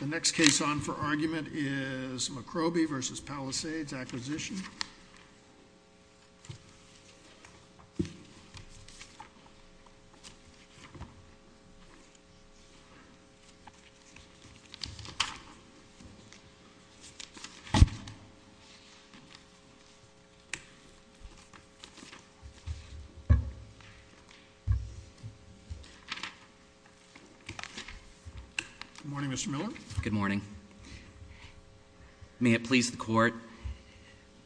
The next case on for argument is McCrobie v. Palisades Acquisition. Good morning, Mr. Miller. Good morning. May it please the court,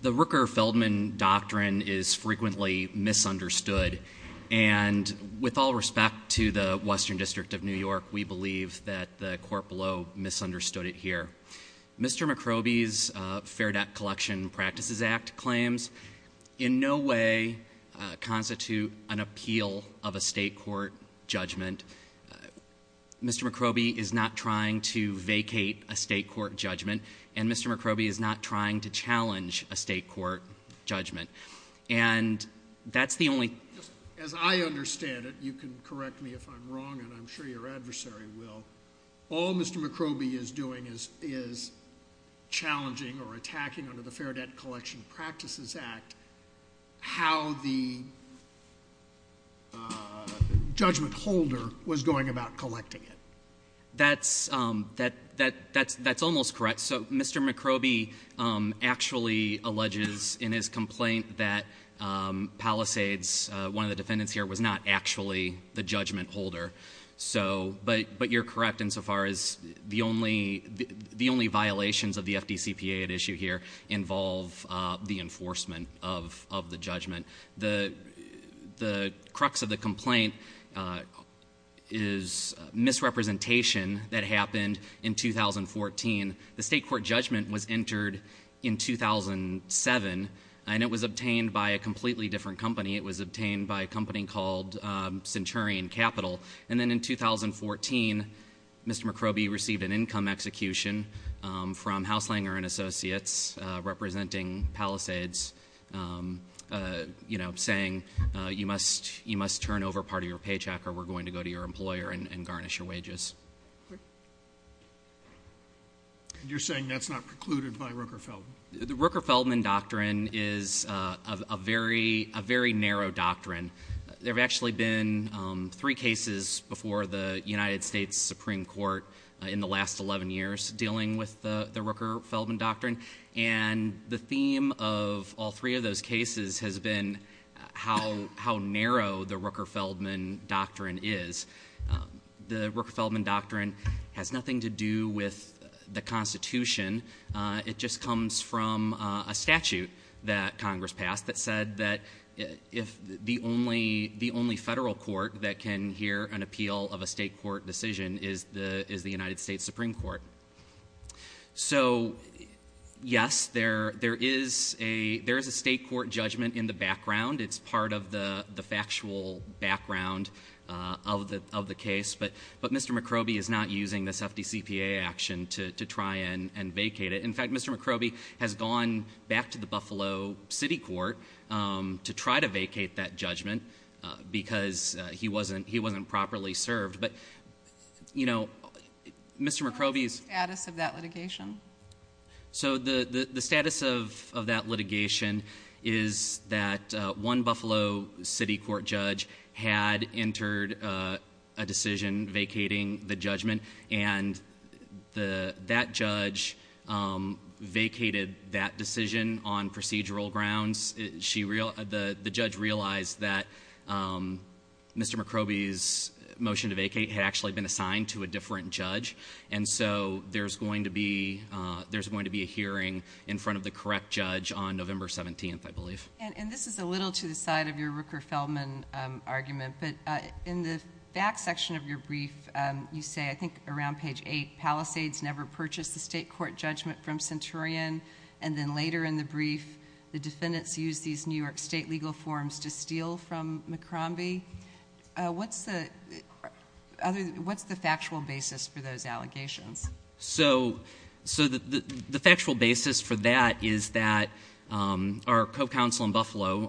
the Rooker-Feldman doctrine is frequently misunderstood. And with all respect to the Western District of New York, we believe that the court below misunderstood it here. Mr. McCrobie's Fair Debt Collection Practices Act claims in no way constitute an appeal of a state court judgment. Mr. McCrobie is not trying to vacate a state court judgment, and Mr. McCrobie is not trying to challenge a state court judgment. And that's the only— As I understand it, you can correct me if I'm wrong, and I'm sure your adversary will, all Mr. McCrobie is doing is challenging or attacking under the Fair Debt Collection Practices Act how the judgment holder was going about collecting it. That's almost correct. So Mr. McCrobie actually alleges in his complaint that Palisades, one of the defendants here, was not actually the judgment holder. But you're correct insofar as the only violations of the FDCPA at issue here involve the enforcement of the judgment. The crux of the complaint is misrepresentation that happened in 2014. The state court judgment was entered in 2007, and it was obtained by a completely different company. It was obtained by a company called Centurion Capital. And then in 2014, Mr. McCrobie received an income execution from Hauslinger & Associates representing Palisades, you know, saying you must turn over part of your paycheck or we're going to go to your employer and garnish your wages. And you're saying that's not precluded by Rooker-Feldman? The Rooker-Feldman Doctrine is a very narrow doctrine. There have actually been three cases before the United States Supreme Court in the last 11 years dealing with the Rooker-Feldman Doctrine. And the theme of all three of those cases has been how narrow the Rooker-Feldman Doctrine is. The Rooker-Feldman Doctrine has nothing to do with the Constitution. It just comes from a statute that Congress passed that said that if the only federal court that can hear an appeal of a state court decision is the United States Supreme Court. So, yes, there is a state court judgment in the background. It's part of the factual background of the case. But Mr. McRobie is not using this FDCPA action to try and vacate it. In fact, Mr. McRobie has gone back to the Buffalo City Court to try to vacate that judgment because he wasn't properly served. But, you know, Mr. McRobie's- What is the status of that litigation? So the status of that litigation is that one Buffalo City Court judge had entered a decision vacating the judgment. And that judge vacated that decision on procedural grounds. The judge realized that Mr. McRobie's motion to vacate had actually been assigned to a different judge. And so there's going to be a hearing in front of the correct judge on November 17th, I believe. And this is a little to the side of your Rooker-Feldman argument. But in the back section of your brief, you say, I think, around page 8, Palisades never purchased the state court judgment from Centurion. And then later in the brief, the defendants used these New York state legal forms to steal from McRobie. What's the factual basis for those allegations? So the factual basis for that is that our co-counsel in Buffalo,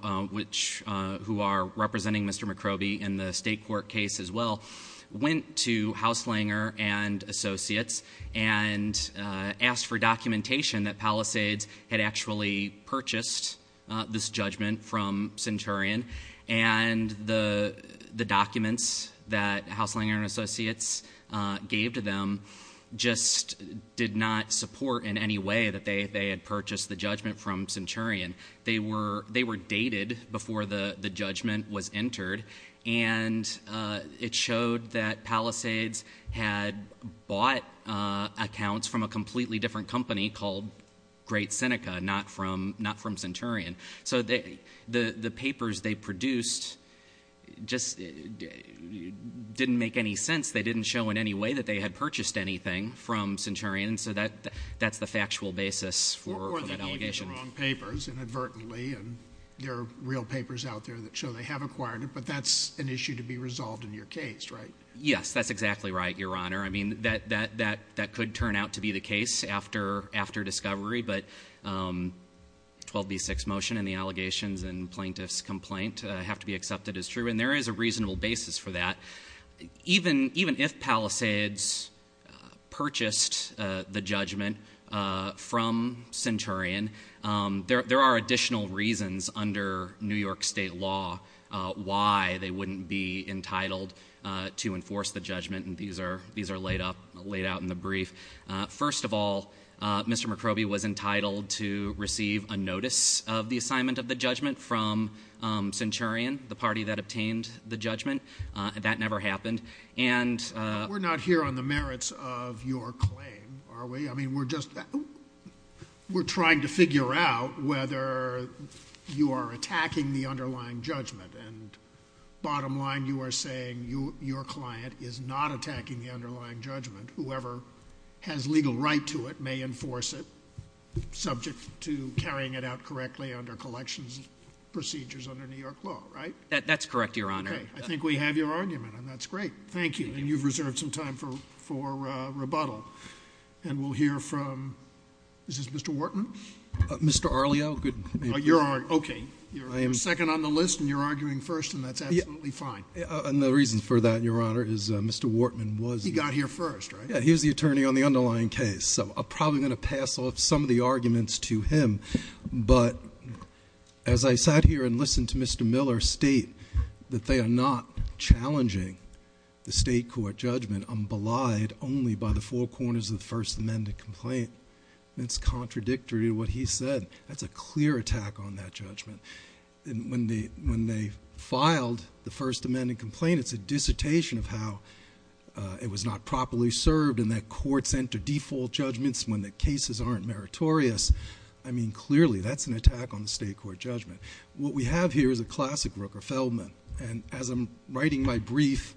who are representing Mr. McRobie in the state court case as well, went to Hauslinger and Associates and asked for documentation that Palisades had actually purchased this judgment from Centurion. And the documents that Hauslinger and Associates gave to them just did not support in any way that they had purchased the judgment from Centurion. They were dated before the judgment was entered. And it showed that Palisades had bought accounts from a completely different company called Great Seneca, not from Centurion. So the papers they produced just didn't make any sense. They didn't show in any way that they had purchased anything from Centurion. So that's the factual basis for that allegation. Or they gave you the wrong papers inadvertently, and there are real papers out there that show they have acquired it. But that's an issue to be resolved in your case, right? Yes, that's exactly right, Your Honor. I mean, that could turn out to be the case after discovery. But 12B6 motion and the allegations and plaintiff's complaint have to be accepted as true. And there is a reasonable basis for that. Even if Palisades purchased the judgment from Centurion, there are additional reasons under New York State law why they wouldn't be entitled to enforce the judgment. And these are laid out in the brief. First of all, Mr. McCroby was entitled to receive a notice of the assignment of the judgment from Centurion, the party that obtained the judgment. That never happened. We're not here on the merits of your claim, are we? I mean, we're just trying to figure out whether you are attacking the underlying judgment. And bottom line, you are saying your client is not attacking the underlying judgment. Whoever has legal right to it may enforce it subject to carrying it out correctly under collections procedures under New York law, right? That's correct, Your Honor. Okay. I think we have your argument, and that's great. Thank you. And you've reserved some time for rebuttal. And we'll hear from — is this Mr. Wharton? Mr. Arlio. Okay. You're second on the list, and you're arguing first, and that's absolutely fine. And the reason for that, Your Honor, is Mr. Wharton was — He got here first, right? Yeah. He was the attorney on the underlying case. So I'm probably going to pass off some of the arguments to him. But as I sat here and listened to Mr. Miller state that they are not challenging the state court judgment, only by the four corners of the First Amendment complaint, it's contradictory to what he said. That's a clear attack on that judgment. And when they filed the First Amendment complaint, it's a dissertation of how it was not properly served, and that courts enter default judgments when the cases aren't meritorious. I mean, clearly, that's an attack on the state court judgment. What we have here is a classic Rooker-Feldman. And as I'm writing my brief,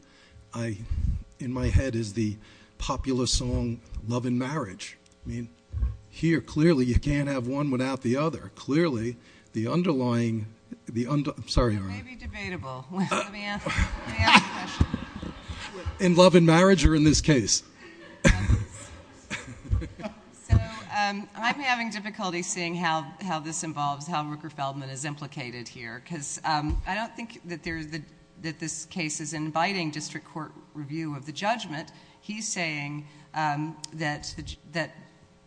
in my head is the popular song, Love and Marriage. I mean, here, clearly, you can't have one without the other. Clearly, the underlying — I'm sorry, Your Honor. It may be debatable. Let me ask the question. In Love and Marriage or in this case? So I'm having difficulty seeing how this involves, how Rooker-Feldman is implicated here, because I don't think that this case is inviting district court review of the judgment. He's saying that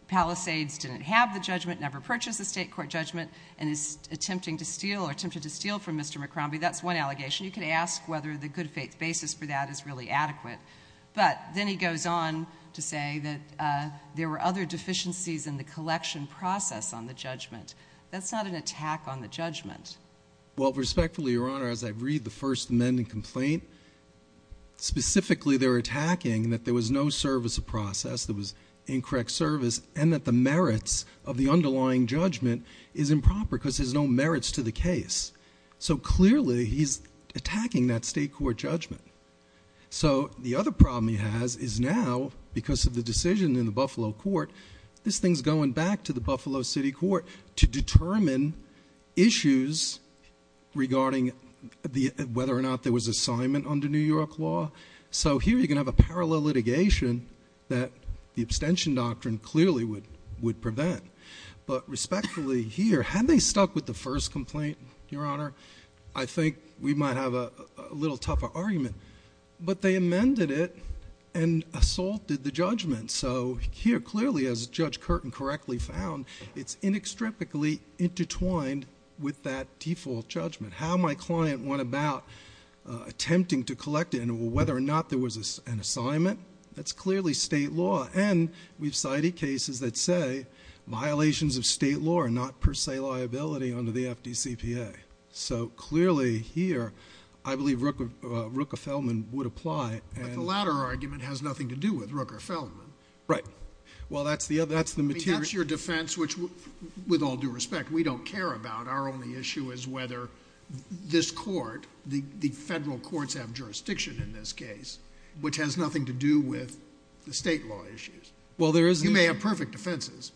Palisades didn't have the judgment, never purchased the state court judgment, and is attempting to steal or attempted to steal from Mr. McCrombie. That's one allegation. You could ask whether the good faith basis for that is really adequate. But then he goes on to say that there were other deficiencies in the collection process on the judgment. That's not an attack on the judgment. Well, respectfully, Your Honor, as I read the first amending complaint, specifically they're attacking that there was no service of process, there was incorrect service, and that the merits of the underlying judgment is improper because there's no merits to the case. So clearly he's attacking that state court judgment. So the other problem he has is now, because of the decision in the Buffalo court, this thing's going back to the Buffalo city court to determine issues regarding whether or not there was assignment under New York law. So here you're going to have a parallel litigation that the abstention doctrine clearly would prevent. But respectfully, here, had they stuck with the first complaint, Your Honor, I think we might have a little tougher argument. But they amended it and assaulted the judgment. So here clearly, as Judge Curtin correctly found, it's inextricably intertwined with that default judgment. How my client went about attempting to collect it and whether or not there was an assignment, that's clearly state law. And we've cited cases that say violations of state law are not per se liability under the FDCPA. So clearly here I believe Rooker-Feldman would apply. But the latter argument has nothing to do with Rooker-Feldman. Right. That's your defense, which with all due respect, we don't care about. Our only issue is whether this court, the federal courts have jurisdiction in this case, which has nothing to do with the state law issues. You may have perfect defenses.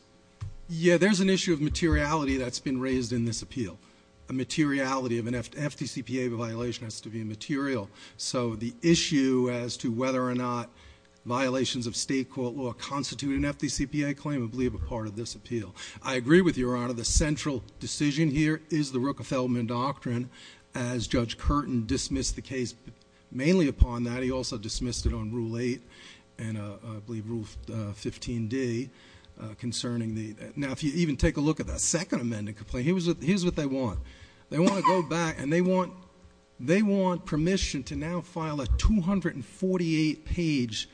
Yeah, there's an issue of materiality that's been raised in this appeal. A materiality of an FDCPA violation has to be material. So the issue as to whether or not violations of state court law constitute an FDCPA claim I believe are part of this appeal. I agree with Your Honor, the central decision here is the Rooker-Feldman doctrine. As Judge Curtin dismissed the case mainly upon that, he also dismissed it on Rule 8 and I believe Rule 15d concerning the – now if you even take a look at that second amended complaint, here's what they want. They want to go back and they want permission to now file a 248-page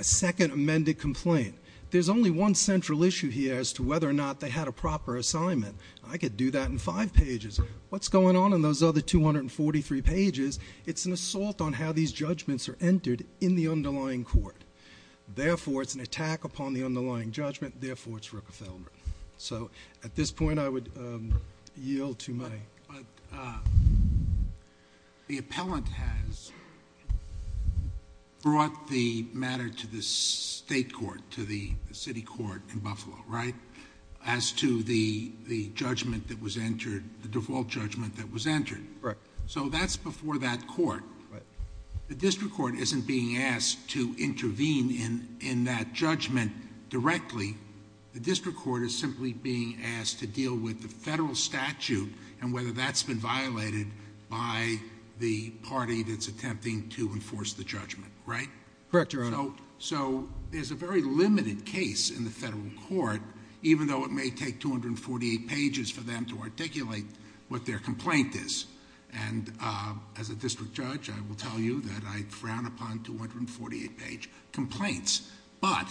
second amended complaint. There's only one central issue here as to whether or not they had a proper assignment. I could do that in five pages. What's going on in those other 243 pages? It's an assault on how these judgments are entered in the underlying court. Therefore, it's an attack upon the underlying judgment. Therefore, it's Rooker-Feldman. So at this point, I would yield to my— But the appellant has brought the matter to the state court, to the city court in Buffalo, right? As to the judgment that was entered, the default judgment that was entered. Right. So that's before that court. Right. The district court isn't being asked to intervene in that judgment directly. The district court is simply being asked to deal with the federal statute and whether that's been violated by the party that's attempting to enforce the judgment, right? Correct, Your Honor. So there's a very limited case in the federal court, even though it may take 248 pages for them to articulate what their complaint is. And as a district judge, I will tell you that I frown upon 248-page complaints. But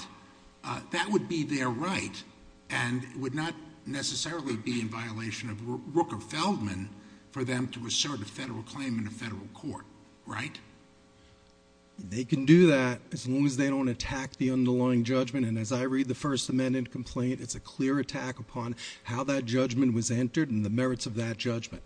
that would be their right and would not necessarily be in violation of Rooker-Feldman for them to assert a federal claim in a federal court, right? They can do that as long as they don't attack the underlying judgment. And as I read the First Amendment complaint, it's a clear attack upon how that judgment was entered and the merits of that judgment.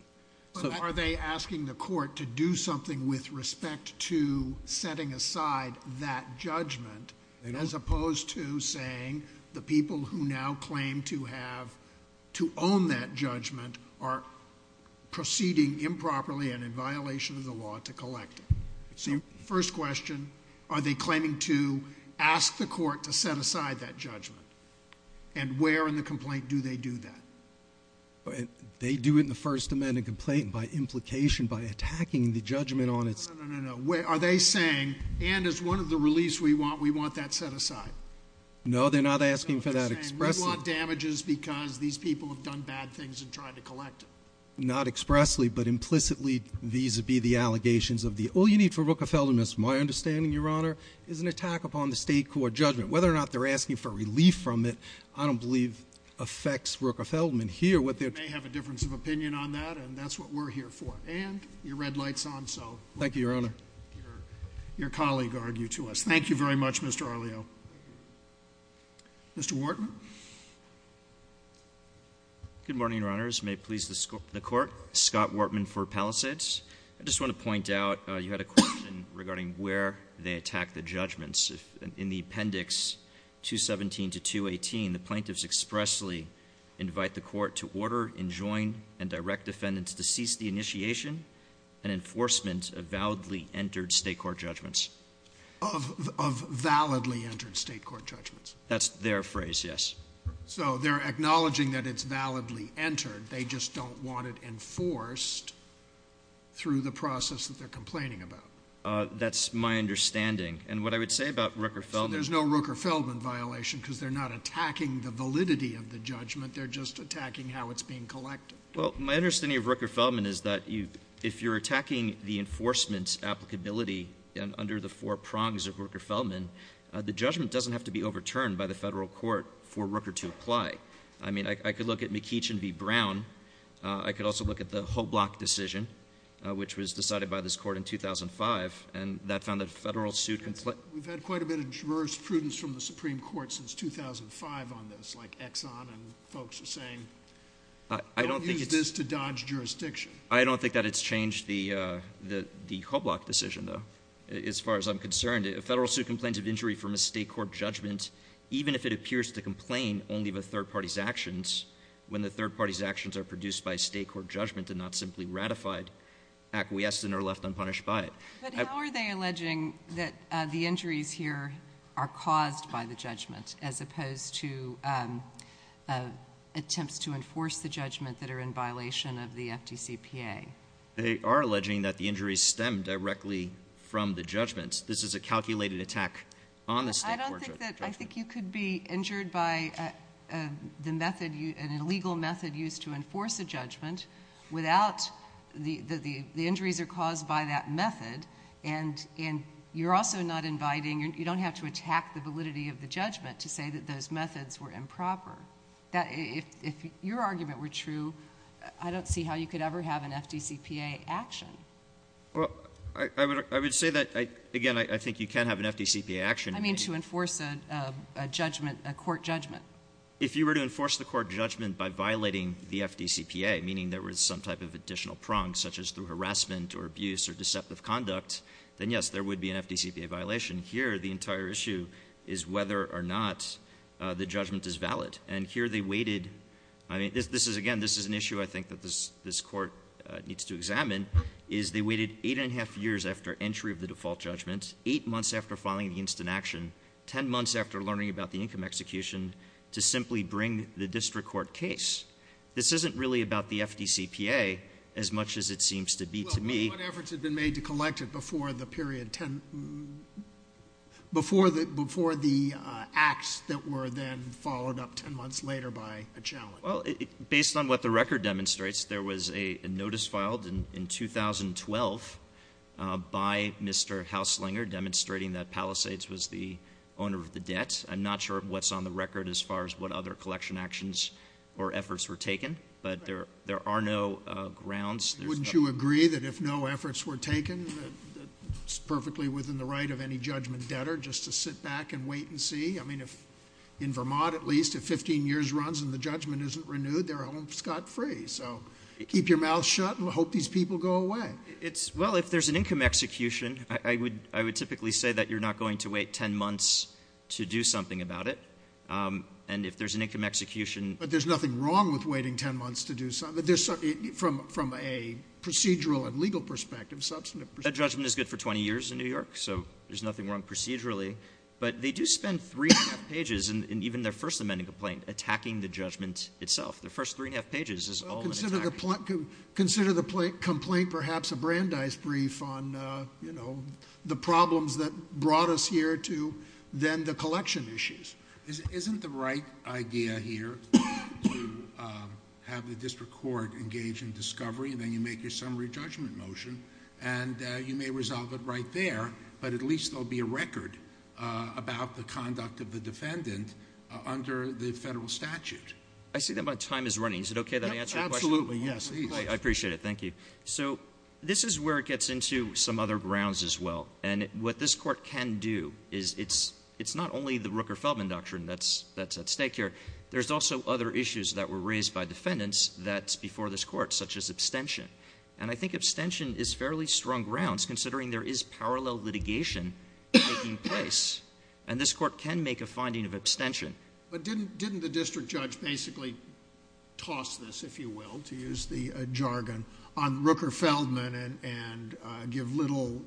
But are they asking the court to do something with respect to setting aside that judgment as opposed to saying the people who now claim to own that judgment are proceeding improperly and in violation of the law to collect it? So first question, are they claiming to ask the court to set aside that judgment? And where in the complaint do they do that? They do it in the First Amendment complaint by implication, by attacking the judgment on its own. No, no, no, no. Are they saying, and as one of the reliefs we want, we want that set aside? No, they're not asking for that expressly. No, they're saying we want damages because these people have done bad things in trying to collect it. Not expressly, but implicitly vis-a-vis the allegations of the all you need for Rooker-Feldman. It's my understanding, Your Honor, is an attack upon the state court judgment. Whether or not they're asking for relief from it, I don't believe affects Rooker-Feldman here. They may have a difference of opinion on that, and that's what we're here for. And your red light's on, so. Thank you, Your Honor. Your colleague argued to us. Thank you very much, Mr. Arleo. Mr. Wartman. Good morning, Your Honors. May it please the court, Scott Wartman for Palisades. I just want to point out you had a question regarding where they attack the judgments. In the appendix 217 to 218, the plaintiffs expressly invite the court to order, enjoin, and direct defendants to cease the initiation and enforcement of validly entered state court judgments. Of validly entered state court judgments. That's their phrase, yes. So they're acknowledging that it's validly entered. They just don't want it enforced through the process that they're complaining about. That's my understanding. And what I would say about Rooker-Feldman. So there's no Rooker-Feldman violation because they're not attacking the validity of the judgment. They're just attacking how it's being collected. Well, my understanding of Rooker-Feldman is that if you're attacking the enforcement's applicability under the four prongs of Rooker-Feldman, the judgment doesn't have to be overturned by the federal court for Rooker to apply. I mean, I could look at McEachin v. Brown. I could also look at the Hoblock decision, which was decided by this court in 2005, and that found that a federal suit can— We've had quite a bit of diverse prudence from the Supreme Court since 2005 on this, like Exxon and folks are saying, don't use this to dodge jurisdiction. I don't think that it's changed the Hoblock decision, though, as far as I'm concerned. A federal suit complains of injury from a state court judgment even if it appears to complain only of a third party's actions when the third party's actions are produced by a state court judgment and not simply ratified, acquiesced, and are left unpunished by it. But how are they alleging that the injuries here are caused by the judgment as opposed to attempts to enforce the judgment that are in violation of the FDCPA? They are alleging that the injuries stem directly from the judgments. This is a calculated attack on the state court judgment. I think that you could be injured by an illegal method used to enforce a judgment without the injuries are caused by that method, and you're also not inviting—you don't have to attack the validity of the judgment to say that those methods were improper. If your argument were true, I don't see how you could ever have an FDCPA action. Well, I would say that, again, I think you can have an FDCPA action. I mean to enforce a judgment, a court judgment. If you were to enforce the court judgment by violating the FDCPA, meaning there was some type of additional prong, such as through harassment or abuse or deceptive conduct, then, yes, there would be an FDCPA violation. Here, the entire issue is whether or not the judgment is valid, and here they waited— I mean, again, this is an issue I think that this court needs to examine, is they waited 8 1⁄2 years after entry of the default judgment, 8 months after filing the instant action, 10 months after learning about the income execution to simply bring the district court case. This isn't really about the FDCPA as much as it seems to be to me. Well, what efforts had been made to collect it before the period 10—before the acts that were then followed up 10 months later by a challenge? Well, based on what the record demonstrates, there was a notice filed in 2012 by Mr. Hauslinger demonstrating that Palisades was the owner of the debt. I'm not sure what's on the record as far as what other collection actions or efforts were taken, but there are no grounds. Wouldn't you agree that if no efforts were taken, it's perfectly within the right of any judgment debtor just to sit back and wait and see? I mean, in Vermont, at least, if 15 years runs and the judgment isn't renewed, they're home scot-free. So keep your mouth shut and hope these people go away. Well, if there's an income execution, I would typically say that you're not going to wait 10 months to do something about it. And if there's an income execution— But there's nothing wrong with waiting 10 months to do something. From a procedural and legal perspective, substantive— A judgment is good for 20 years in New York, so there's nothing wrong procedurally. But they do spend three and a half pages in even their first amending complaint attacking the judgment itself. Their first three and a half pages is all an attack. Consider the complaint perhaps a Brandeis brief on the problems that brought us here to then the collection issues. Isn't the right idea here to have the district court engage in discovery and then you make your summary judgment motion and you may resolve it right there, but at least there will be a record about the conduct of the defendant under the federal statute? I see that my time is running. Is it okay that I answer your question? Absolutely, yes. Great. I appreciate it. Thank you. So this is where it gets into some other grounds as well. And what this court can do is it's not only the Rooker-Feldman Doctrine that's at stake here. There's also other issues that were raised by defendants that's before this court, such as abstention. And I think abstention is fairly strong grounds considering there is parallel litigation taking place. And this court can make a finding of abstention. But didn't the district judge basically toss this, if you will, to use the jargon, on Rooker-Feldman and give little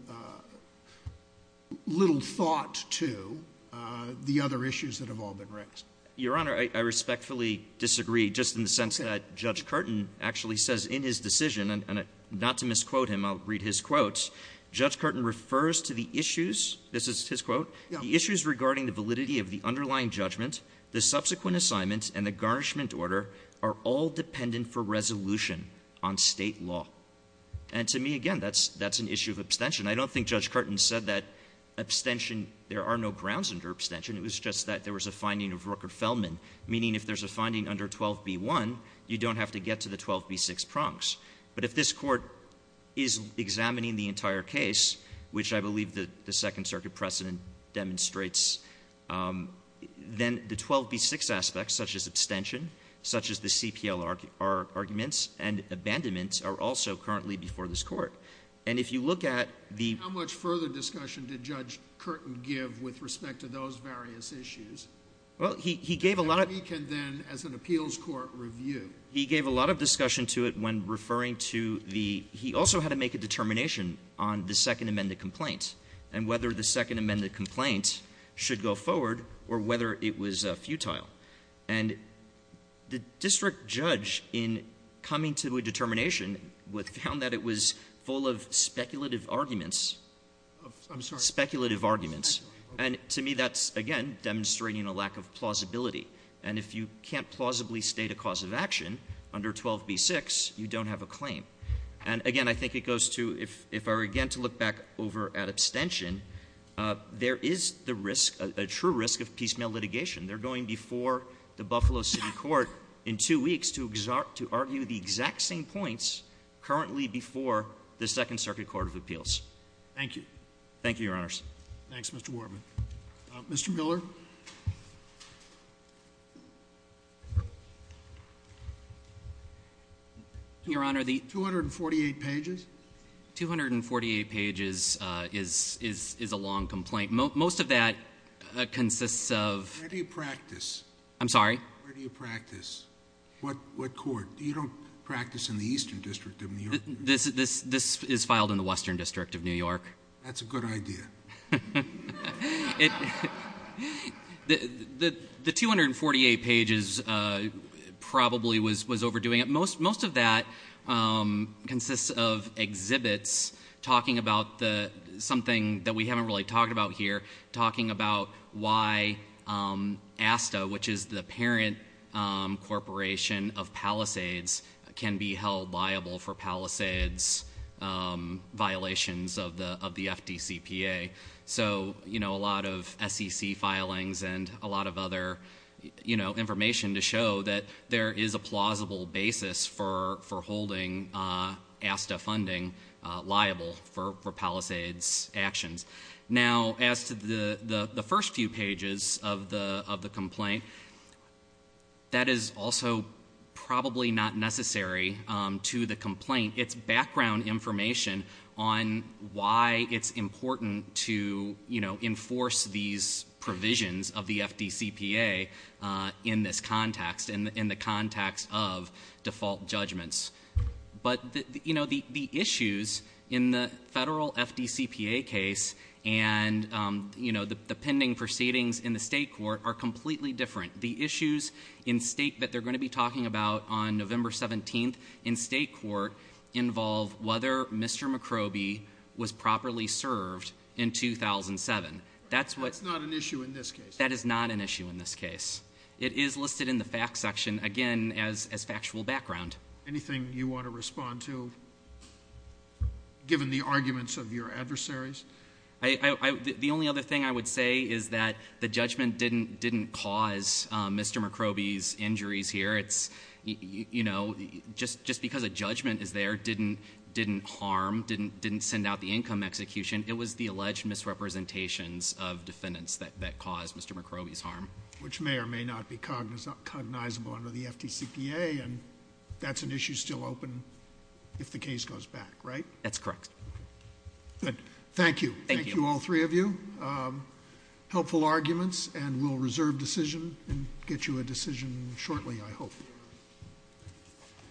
thought to the other issues that have all been raised? Your Honor, I respectfully disagree just in the sense that Judge Curtin actually says in his decision, and not to misquote him, I'll read his quotes, Judge Curtin refers to the issues, this is his quote, the issues regarding the validity of the underlying judgment, the subsequent assignments, and the garnishment order are all dependent for resolution on state law. And to me, again, that's an issue of abstention. I don't think Judge Curtin said that abstention, there are no grounds under abstention. It was just that there was a finding of Rooker-Feldman, meaning if there's a finding under 12b-1, you don't have to get to the 12b-6 prongs. But if this court is examining the entire case, which I believe the Second Circuit precedent demonstrates, then the 12b-6 aspects, such as abstention, such as the CPL arguments and abandonments, are also currently before this court. How much further discussion did Judge Curtin give with respect to those various issues? That we can then, as an appeals court, review. He gave a lot of discussion to it when referring to the, he also had to make a determination on the second amended complaint, and whether the second amended complaint should go forward, or whether it was futile. And the district judge, in coming to a determination, found that it was full of speculative arguments. Speculative arguments. And to me, that's, again, demonstrating a lack of plausibility. And if you can't plausibly state a cause of action under 12b-6, you don't have a claim. And again, I think it goes to, if I were again to look back over at abstention, there is the risk, a true risk, of piecemeal litigation. They're going before the Buffalo City Court in two weeks to argue the exact same points currently before the Second Circuit Court of Appeals. Thank you, Your Honors. Thanks, Mr. Wardman. Mr. Miller. Your Honor, the- 248 pages. 248 pages is a long complaint. Most of that consists of- Where do you practice? I'm sorry? Where do you practice? What court? You don't practice in the Eastern District of New York? This is filed in the Western District of New York. That's a good idea. The 248 pages probably was overdoing it. Most of that consists of exhibits talking about something that we haven't really talked about here, talking about why ASTA, which is the parent corporation of Palisades, can be held liable for Palisades violations of the FDCPA. A lot of SEC filings and a lot of other information to show that there is a plausible basis for holding ASTA funding liable for Palisades actions. Now, as to the first few pages of the complaint, that is also probably not necessary to the complaint. It's background information on why it's important to enforce these provisions of the FDCPA in this context, in the context of default judgments. But the issues in the federal FDCPA case and the pending proceedings in the state court are completely different. The issues in state that they're going to be talking about on November 17th in state court involve whether Mr. McRobie was properly served in 2007. That's what... That's not an issue in this case. That is not an issue in this case. It is listed in the facts section, again, as factual background. Anything you want to respond to, given the arguments of your adversaries? The only other thing I would say is that the judgment didn't cause Mr. McRobie's injuries here. It's, you know, just because a judgment is there didn't harm, didn't send out the income execution. It was the alleged misrepresentations of defendants that caused Mr. McRobie's harm. Which may or may not be cognizable under the FDCPA, and that's an issue still open if the case goes back, right? That's correct. Good. Thank you. Thank you, all three of you. Helpful arguments, and we'll reserve decision and get you a decision shortly, I hope.